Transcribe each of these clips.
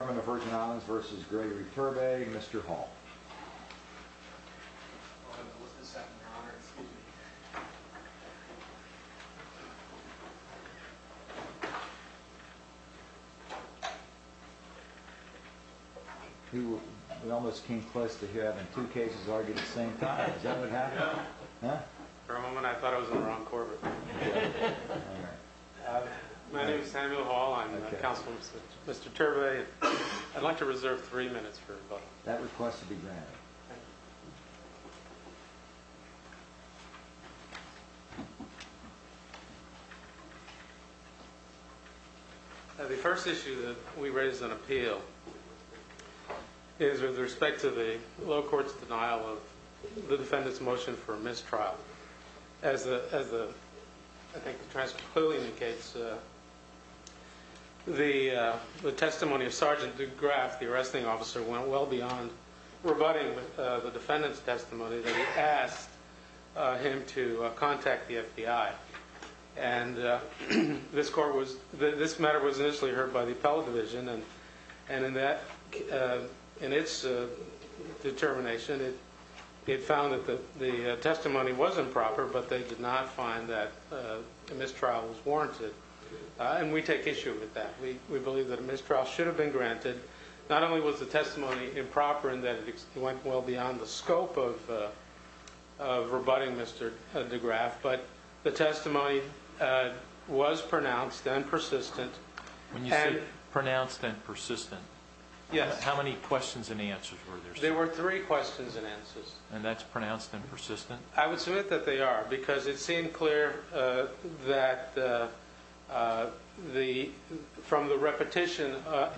Mr. Chairman of the Virgin Islands v. Gregory Turbe, Mr. Hall We almost came close to having two cases argue at the same time. Is that what happened? For a moment I thought I was on the wrong Corbett. My name is Samuel Hall. I'm the counsel of Mr. Turbe. I'd like to reserve three minutes for rebuttal. That request will be granted. The first issue that we raise on appeal is with respect to the low court's denial of the defendant's motion for a mistrial. As the transcript clearly indicates, the testimony of Sgt. DeGraff, the arresting officer, went well beyond rebutting the defendant's testimony that he asked him to contact the FBI. This matter was initially heard by the appellate division, and in its determination it found that the testimony was improper, but they did not find that a mistrial was warranted. We take issue with that. We believe that a mistrial should have been granted. Not only was the testimony improper in that it went well beyond the scope of rebutting Mr. DeGraff, but the testimony was pronounced and persistent. When you say pronounced and persistent, how many questions and answers were there? There were three questions and answers. And that's pronounced and persistent? I would submit that they are, because it seemed clear from the repetition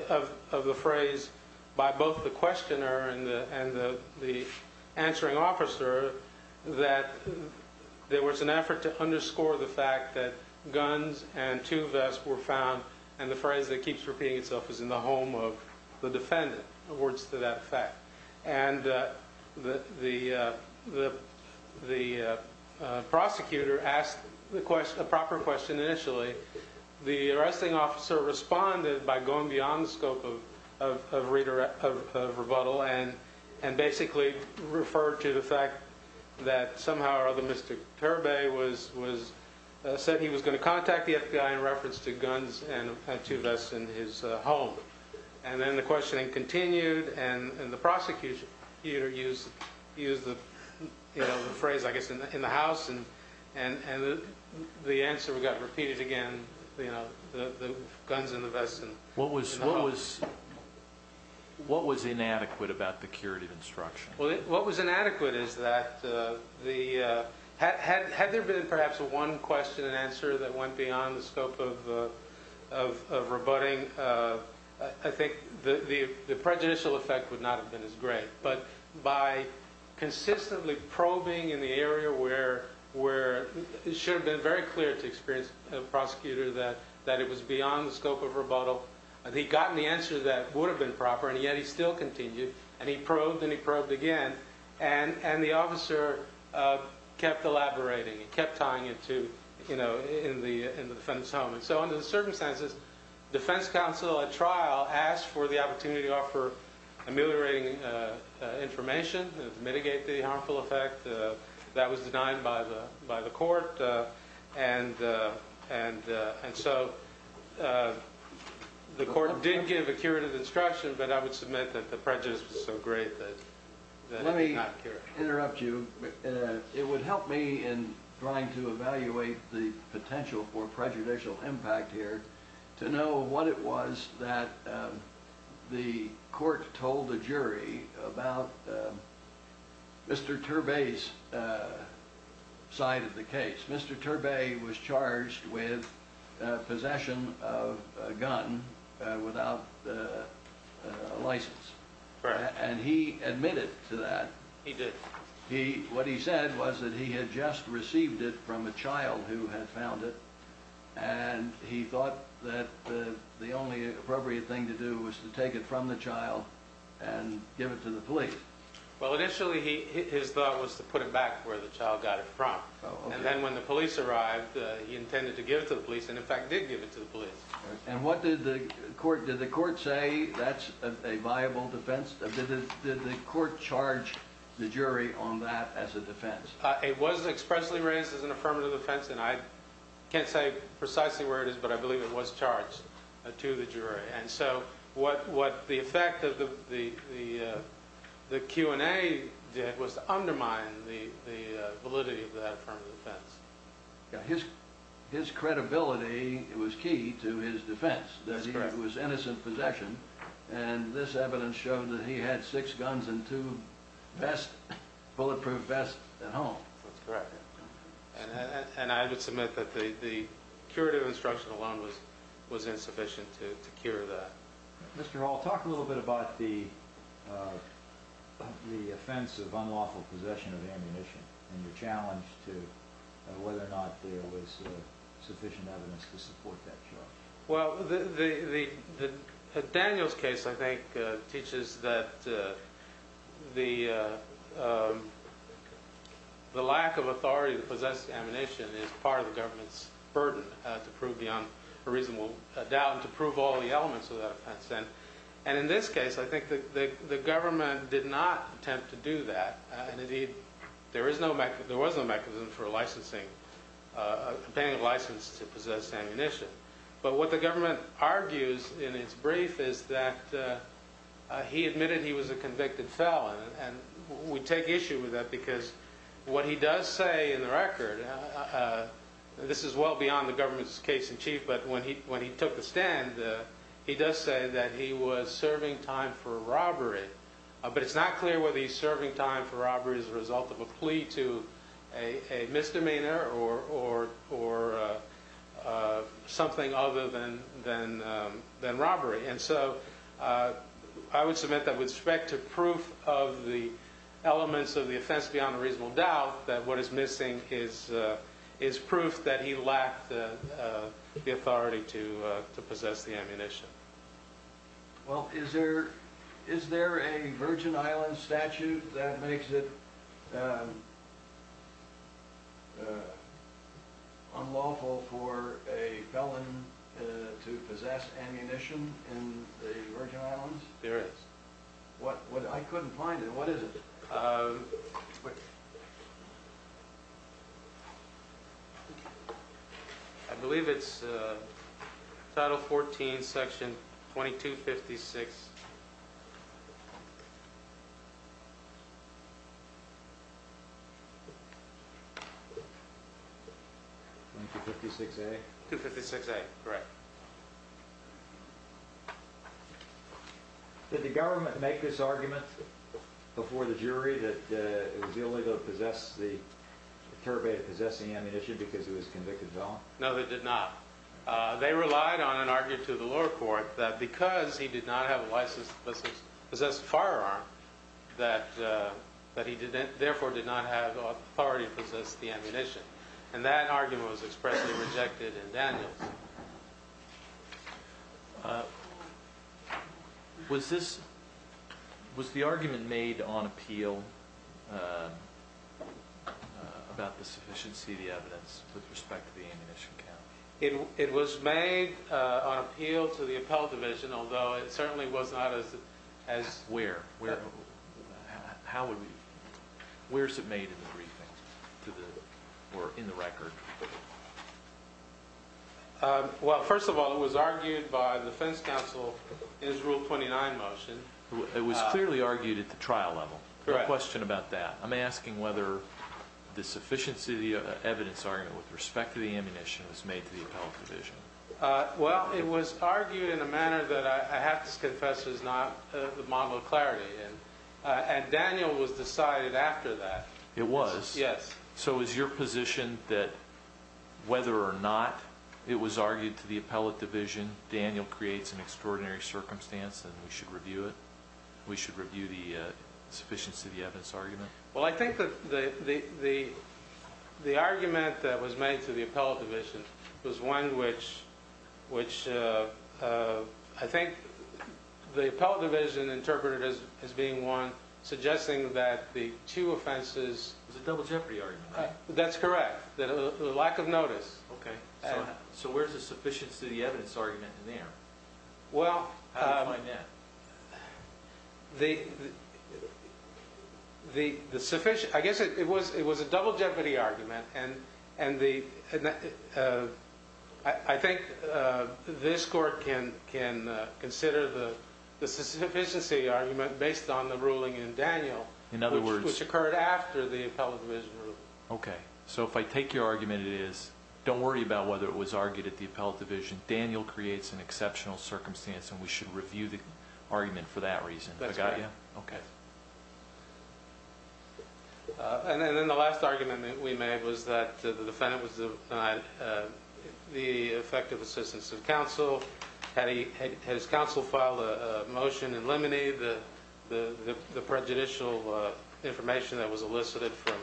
of the phrase by both the questioner and the answering officer that there was an effort to underscore the fact that guns and two vests were found, and the phrase that keeps repeating itself is in the home of the defendant. And the prosecutor asked a proper question initially. The arresting officer responded by going beyond the scope of rebuttal and basically referred to the fact that somehow or other Mr. Turbey said he was going to contact the FBI in reference to guns and two vests in his home. And then the questioning continued, and the prosecutor used the phrase, I guess, in the house. And the answer got repeated again, the guns and the vests in the house. What was inadequate about the curative instruction? What was inadequate is that had there been perhaps one question and answer that went beyond the scope of rebutting, I think the prejudicial effect would not have been as great. But by consistently probing in the area where it should have been very clear to the prosecutor that it was beyond the scope of rebuttal, he'd gotten the answer that would have been proper, and yet he still continued. And he probed and he probed again, and the officer kept elaborating, kept tying it to, you know, in the defendant's home. And so under the circumstances, defense counsel at trial asked for the opportunity to offer ameliorating information to mitigate the harmful effect. That was denied by the court. And so the court didn't give a curative instruction, but I would submit that the prejudice was so great that it did not cure it. It would help me in trying to evaluate the potential for prejudicial impact here to know what it was that the court told the jury about Mr. Turbay's side of the case. Mr. Turbay was charged with possession of a gun without a license. And he admitted to that. He did. What he said was that he had just received it from a child who had found it, and he thought that the only appropriate thing to do was to take it from the child and give it to the police. Well, initially his thought was to put it back where the child got it from. And then when the police arrived, he intended to give it to the police and, in fact, did give it to the police. And what did the court – did the court say that's a viable defense? Did the court charge the jury on that as a defense? It was expressly raised as an affirmative defense, and I can't say precisely where it is, but I believe it was charged to the jury. And so what the effect of the Q&A did was undermine the validity of that affirmative defense. His credibility was key to his defense, that it was innocent possession, and this evidence showed that he had six guns and two bulletproof vests at home. That's correct. And I would submit that the curative instruction alone was insufficient to cure that. Mr. Hall, talk a little bit about the offense of unlawful possession of ammunition and the challenge to whether or not there was sufficient evidence to support that charge. Well, Daniel's case, I think, teaches that the lack of authority to possess ammunition is part of the government's burden to prove beyond a reasonable doubt and to prove all the elements of that offense. And in this case, I think the government did not attempt to do that, and indeed there was no mechanism for licensing – paying a license to possess ammunition. But what the government argues in its brief is that he admitted he was a convicted felon, and we take issue with that because what he does say in the record – and this is well beyond the government's case in chief – but when he took the stand, he does say that he was serving time for robbery. But it's not clear whether he's serving time for robbery as a result of a plea to a misdemeanor or something other than robbery. And so I would submit that with respect to proof of the elements of the offense beyond a reasonable doubt, that what is missing is proof that he lacked the authority to possess the ammunition. Well, is there a Virgin Islands statute that makes it unlawful for a felon to possess ammunition in the Virgin Islands? There is. I couldn't find it. What is it? I believe it's Title 14, Section 2256. 2256A? 256A, correct. Did the government make this argument before the jury that it was illegal to possess the – the terribate possessing ammunition because he was a convicted felon? No, they did not. They relied on an argument to the lower court that because he did not have a license to possess a firearm, that he therefore did not have authority to possess the ammunition. And that argument was expressly rejected in Daniels. Was this – was the argument made on appeal about the sufficiency of the evidence with respect to the ammunition count? It was made on appeal to the appellate division, although it certainly was not as – Where? How would we – where is it made in the briefings or in the record? Well, first of all, it was argued by the defense counsel in his Rule 29 motion. It was clearly argued at the trial level. Correct. No question about that. I'm asking whether the sufficiency of the evidence argument with respect to the ammunition was made to the appellate division. Well, it was argued in a manner that I have to confess is not the model of clarity, and Daniel was decided after that. It was? Yes. So is your position that whether or not it was argued to the appellate division, Daniel creates an extraordinary circumstance and we should review it? We should review the sufficiency of the evidence argument? Well, I think that the argument that was made to the appellate division was one which I think the appellate division interpreted as being one suggesting that the two offenses – It was a double jeopardy argument, right? That's correct. The lack of notice. Okay. So where's the sufficiency of the evidence argument in there? How do you find that? I guess it was a double jeopardy argument, and I think this court can consider the sufficiency argument based on the ruling in Daniel, which occurred after the appellate division ruling. Okay. So if I take your argument, it is, don't worry about whether it was argued at the appellate division. Daniel creates an exceptional circumstance, and we should review the argument for that reason. That's right. I got you? Okay. And then the last argument that we made was that the defendant was denied the effective assistance of counsel. Had his counsel filed a motion and eliminated the prejudicial information that was elicited from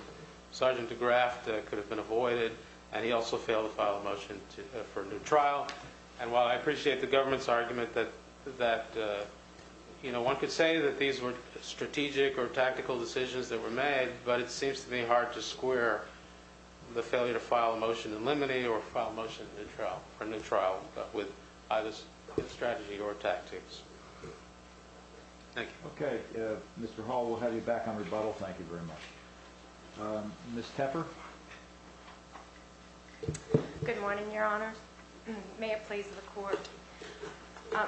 Sergeant DeGraff that could have been avoided, and he also failed to file a motion for a new trial. And while I appreciate the government's argument that, you know, one could say that these were strategic or tactical decisions that were made, but it seems to me hard to square the failure to file a motion and eliminate or file a motion for a new trial with either strategy or tactics. Thank you. Okay. Mr. Hall, we'll have you back on rebuttal. Thank you very much. Ms. Tepper? Good morning, Your Honor. May it please the court.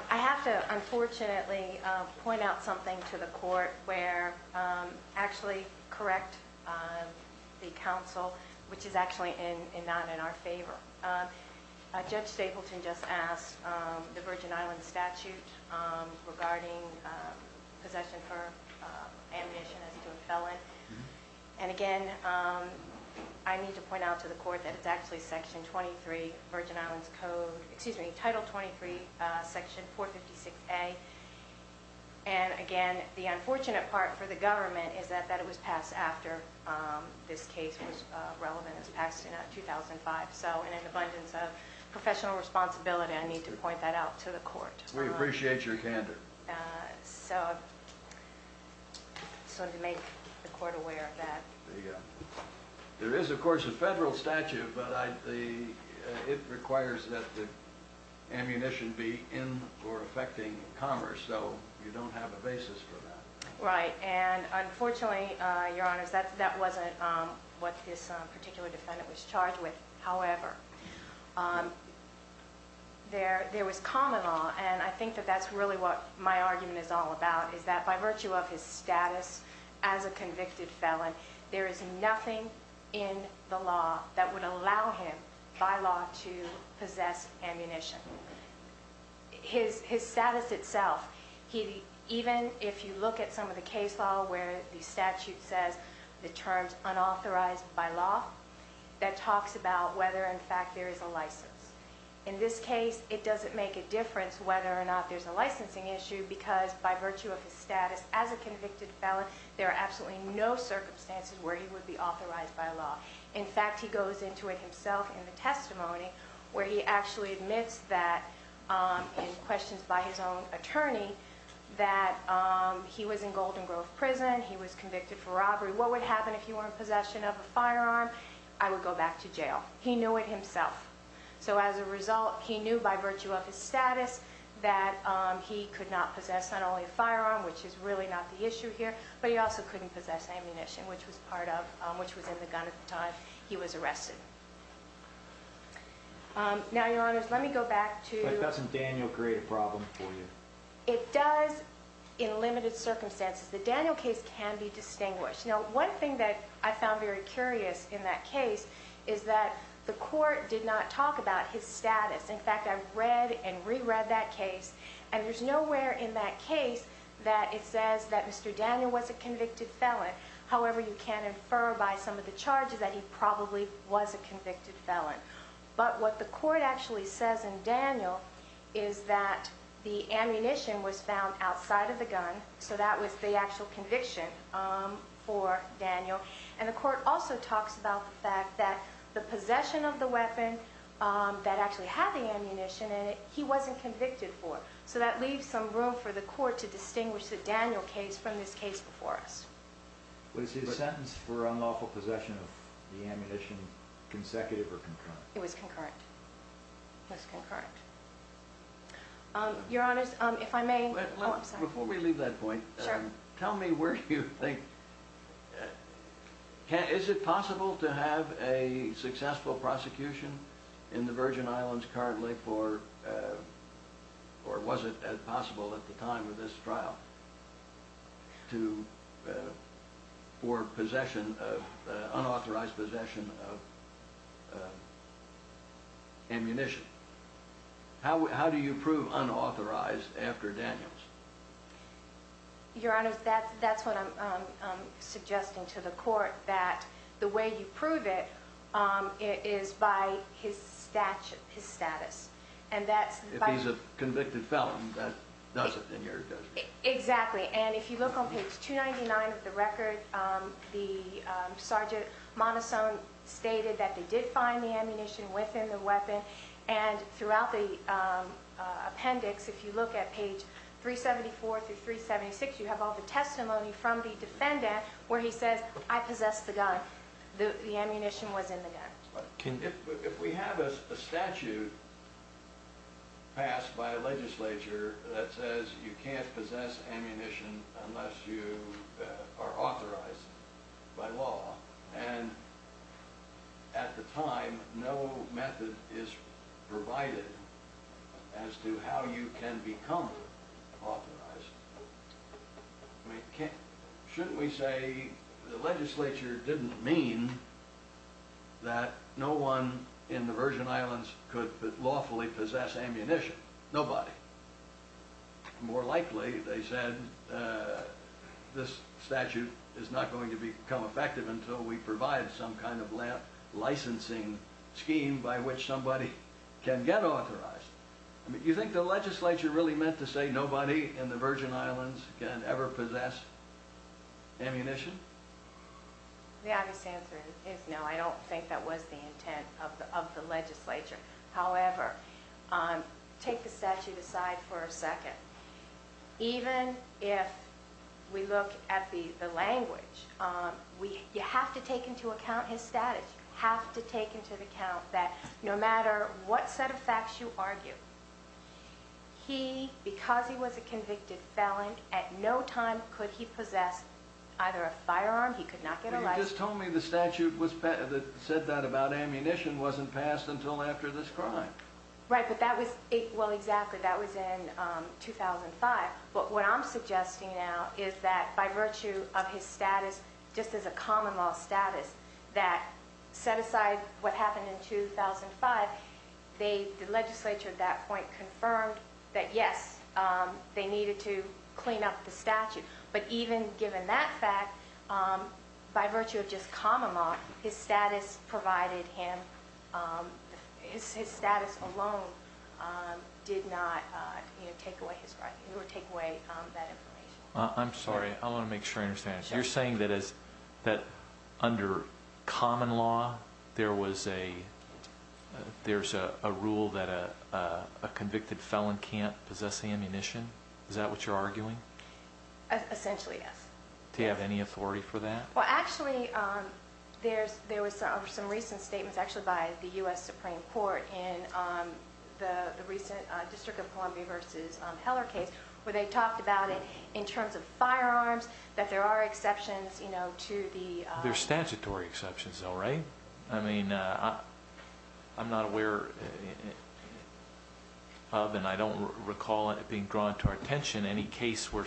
I have to unfortunately point out something to the court where actually correct the counsel, which is actually in not in our favor. Judge Stapleton just asked the Virgin Islands statute regarding possession for amnesia as to a felon. And again, I need to point out to the court that it's actually Section 23, Virgin Islands Code, excuse me, Title 23, Section 456A. And again, the unfortunate part for the government is that it was passed after this case was relevant. It was passed in 2005. So in an abundance of professional responsibility, I need to point that out to the court. We appreciate your candor. So I just wanted to make the court aware of that. There is, of course, a federal statute, but it requires that the ammunition be in or affecting commerce. So you don't have a basis for that. Right. And unfortunately, Your Honors, that wasn't what this particular defendant was charged with. However, there was common law. And I think that that's really what my argument is all about, is that by virtue of his status as a convicted felon, there is nothing in the law that would allow him by law to possess ammunition. His status itself, even if you look at some of the case law where the statute says the terms unauthorized by law, that talks about whether, in fact, there is a license. In this case, it doesn't make a difference whether or not there's a licensing issue, because by virtue of his status as a convicted felon, there are absolutely no circumstances where he would be authorized by law. In fact, he goes into it himself in the testimony, where he actually admits that, in questions by his own attorney, that he was in Golden Grove Prison, he was convicted for robbery. What would happen if he were in possession of a firearm? I would go back to jail. He knew it himself. So as a result, he knew by virtue of his status that he could not possess not only a firearm, which is really not the issue here, but he also couldn't possess ammunition, which was in the gun at the time he was arrested. Now, Your Honors, let me go back to... But doesn't Daniel create a problem for you? It does in limited circumstances. The Daniel case can be distinguished. Now, one thing that I found very curious in that case is that the court did not talk about his status. In fact, I read and reread that case, and there's nowhere in that case that it says that Mr. Daniel was a convicted felon. However, you can infer by some of the charges that he probably was a convicted felon. But what the court actually says in Daniel is that the ammunition was found outside of the gun, so that was the actual conviction for Daniel. And the court also talks about the fact that the possession of the weapon that actually had the ammunition in it, he wasn't convicted for. So that leaves some room for the court to distinguish the Daniel case from this case before us. Was his sentence for unlawful possession of the ammunition consecutive or concurrent? It was concurrent. It was concurrent. Your Honors, if I may... Before we leave that point, tell me where you think, is it possible to have a successful prosecution in the Virgin Islands currently for, or was it possible at the time of this trial, for possession of, unauthorized possession of ammunition? How do you prove unauthorized after Daniel's? Your Honors, that's what I'm suggesting to the court, that the way you prove it is by his status. If he's a convicted felon, that does it in your judgment. Exactly, and if you look on page 299 of the record, the Sergeant Monason stated that they did find the ammunition within the weapon, and throughout the appendix, if you look at page 374 through 376, you have all the testimony from the defendant where he says, I possessed the gun, the ammunition was in the gun. If we have a statute passed by a legislature that says you can't possess ammunition unless you are authorized by law, and at the time no method is provided as to how you can become authorized, I mean, can't, shouldn't we say the legislature didn't mean that no one in the Virgin Islands could lawfully possess ammunition? Nobody. More likely, they said, this statute is not going to become effective until we provide some kind of licensing scheme by which somebody can get authorized. Do you think the legislature really meant to say nobody in the Virgin Islands can ever possess ammunition? The obvious answer is no, I don't think that was the intent of the legislature. However, take the statute aside for a second. Even if we look at the language, you have to take into account his status. You have to take into account that no matter what set of facts you argue, he, because he was a convicted felon, at no time could he possess either a firearm, he could not get a license. You just told me the statute that said that about ammunition wasn't passed until after this crime. Right, but that was, well exactly, that was in 2005. But what I'm suggesting now is that by virtue of his status just as a common law status that set aside what happened in 2005, the legislature at that point confirmed that yes, they needed to clean up the statute. But even given that fact, by virtue of just common law, his status provided him, his status alone did not take away his right, it would take away that information. I'm sorry, I want to make sure I understand. You're saying that under common law there was a, there's a rule that a convicted felon can't possess ammunition? Is that what you're arguing? Essentially, yes. Do you have any authority for that? Well actually, there was some recent statements actually by the U.S. Supreme Court in the recent District of Columbia v. Heller case where they talked about it in terms of firearms, that there are exceptions to the- There's statutory exceptions though, right? I mean, I'm not aware of, and I don't recall it being drawn to our attention, any case where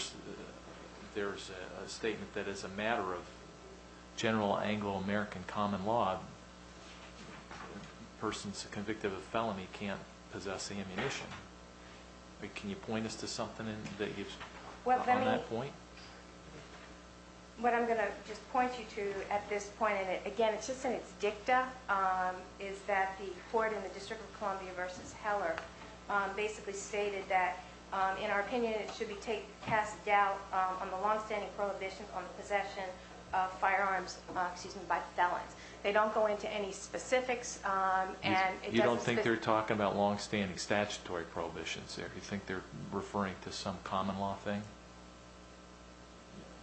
there's a statement that as a matter of general Anglo-American common law, a person convicted of a felony can't possess ammunition. Can you point us to something on that point? What I'm going to just point you to at this point, and again, it's just in its dicta, is that the court in the District of Columbia v. Heller basically stated that, in our opinion, it should be cast doubt on the long-standing prohibition on the possession of firearms by felons. They don't go into any specifics, and it doesn't- You don't think they're talking about long-standing statutory prohibitions there? You think they're referring to some common law thing?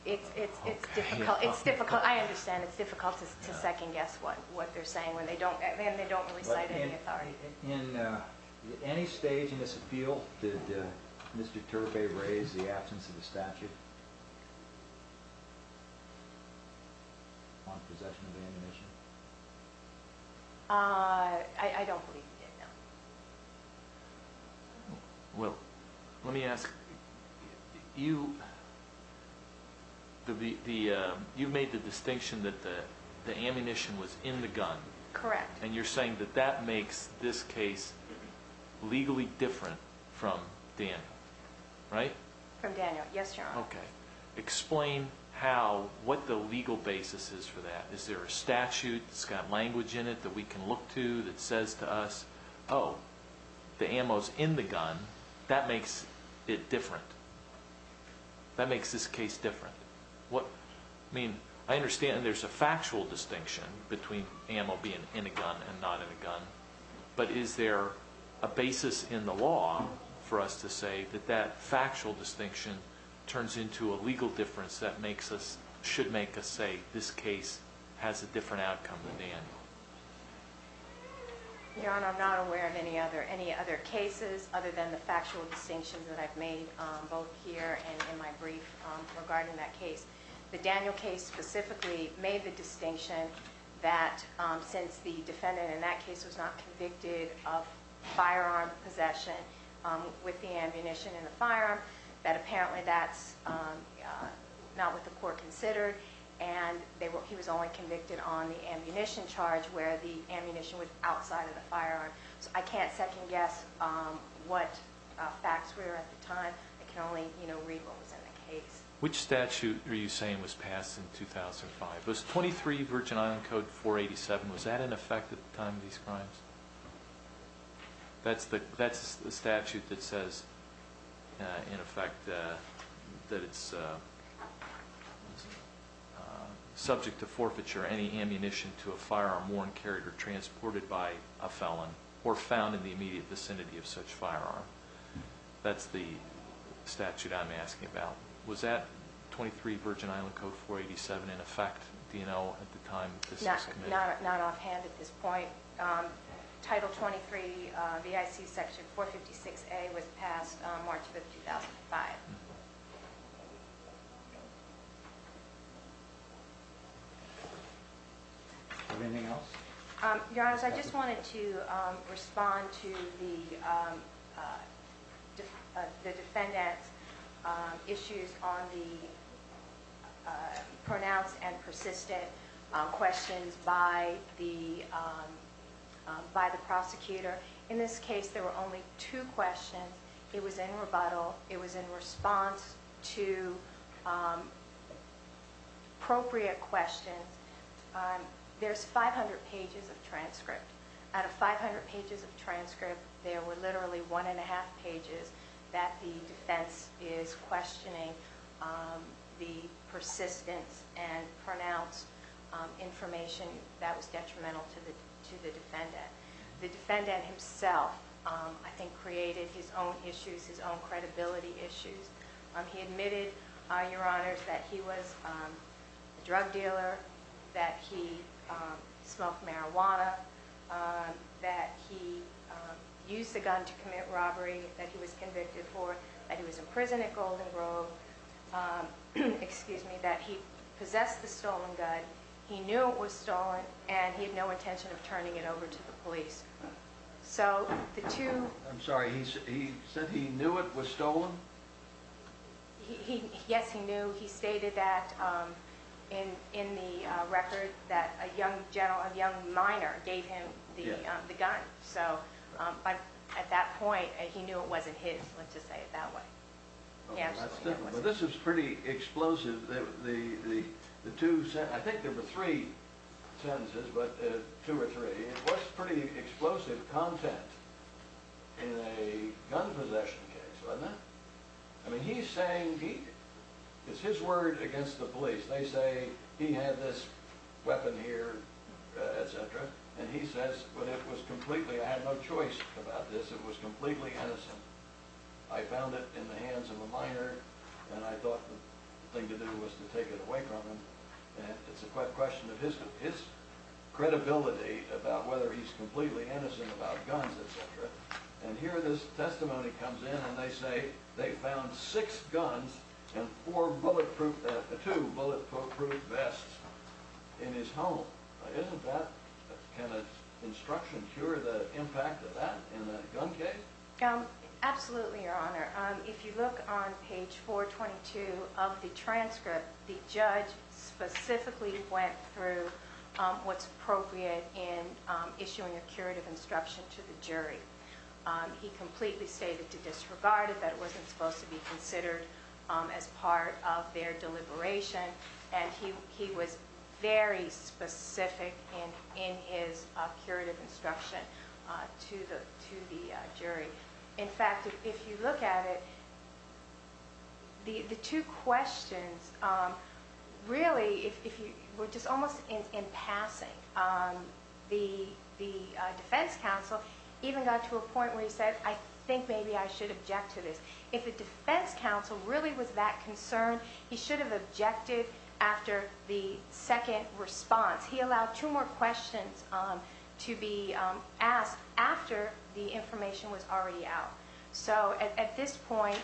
It's difficult, I understand, it's difficult to second guess what they're saying when they don't really cite any authority. At any stage in this appeal, did Mr. Turvey raise the absence of the statute on possession of ammunition? I don't believe he did, no. Well, let me ask, you made the distinction that the ammunition was in the gun. Correct. And you're saying that that makes this case legally different from Daniel, right? From Daniel, yes, Your Honor. Okay, explain what the legal basis is for that. Is there a statute that's got language in it that we can look to that says to us, oh, the ammo's in the gun, that makes it different. That makes this case different. I understand there's a factual distinction between ammo being in a gun and not in a gun, but is there a basis in the law for us to say that that factual distinction turns into a legal difference that should make us say this case has a different outcome than Daniel? Your Honor, I'm not aware of any other cases other than the factual distinctions that I've made, both here and in my brief regarding that case. The Daniel case specifically made the distinction that since the defendant in that case was not convicted of firearm possession with the ammunition in the firearm, that apparently that's not what the court considered, and he was only convicted on the ammunition charge where the ammunition was outside of the firearm. So I can't second-guess what facts were at the time. I can only read what was in the case. Which statute are you saying was passed in 2005? Was 23 Virgin Island Code 487, was that in effect at the time of these crimes? That's the statute that says, in effect, that it's subject to forfeiture, any ammunition to a firearm worn, carried, or transported by a felon, or found in the immediate vicinity of such firearm. That's the statute I'm asking about. Was that 23 Virgin Island Code 487 in effect? Do you know at the time that this was committed? Not offhand at this point. Title 23 BIC section 456A was passed March of 2005. Anything else? Your Honor, I just wanted to respond to the defendant's issues on the pronounced and persistent questions by the prosecutor. In this case, there were only two questions. It was in rebuttal. It was in response to appropriate questions. There's 500 pages of transcript. Out of 500 pages of transcript, there were literally one-and-a-half pages that the defense is questioning the persistence and pronounced information that was detrimental to the defendant. The defendant himself, I think, created his own issues, his own credibility issues. He admitted, Your Honor, that he was a drug dealer, that he smoked marijuana, that he used the gun to commit robbery, that he was convicted for, that he was in prison at Golden Grove, that he possessed the stolen gun, he knew it was stolen, and he had no intention of turning it over to the police. I'm sorry, he said he knew it was stolen? Yes, he knew. He admitted that in the record that a young minor gave him the gun. At that point, he knew it wasn't his, let's just say it that way. This is pretty explosive. I think there were three sentences, but two or three. It was pretty explosive content in a gun possession case, wasn't it? I mean, he's saying, it's his word against the police. They say, he had this weapon here, etc., and he says, but it was completely, I had no choice about this, it was completely innocent. I found it in the hands of a minor, and I thought the thing to do was to take it away from him. It's a question of his credibility about whether he's completely innocent about guns, etc. And here this testimony comes in, and they say, they found six guns and two bulletproof vests in his home. Can instruction cure the impact of that in a gun case? Absolutely, Your Honor. If you look on page 422 of the transcript, the judge specifically went through what's appropriate in issuing a curative instruction to the jury. He completely stated to disregard it, that it wasn't supposed to be considered as part of their deliberation, and he was very specific in his curative instruction to the jury. In fact, if you look at it, the two questions really were just almost in passing. The defense counsel even got to a point where he said, I think maybe I should object to this. If the defense counsel really was that concerned, he should have objected after the second response. He allowed two more questions to be asked after the information was already out. So at this point,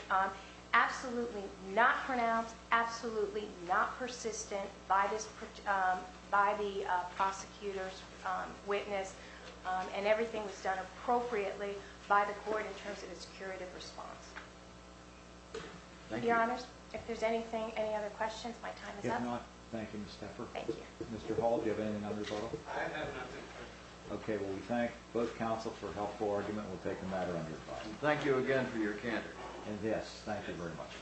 absolutely not pronounced, absolutely not persistent by the prosecutor's witness, and everything was done appropriately by the court in terms of its curative response. Your Honors, if there's anything, any other questions, my time is up. Thank you, Ms. Tepfer. Mr. Hall, do you have anything on your file? I have nothing. Okay, well we thank both counsels for a helpful argument. We'll take a matter under review. Thank you again for your candor. Yes, thank you very much.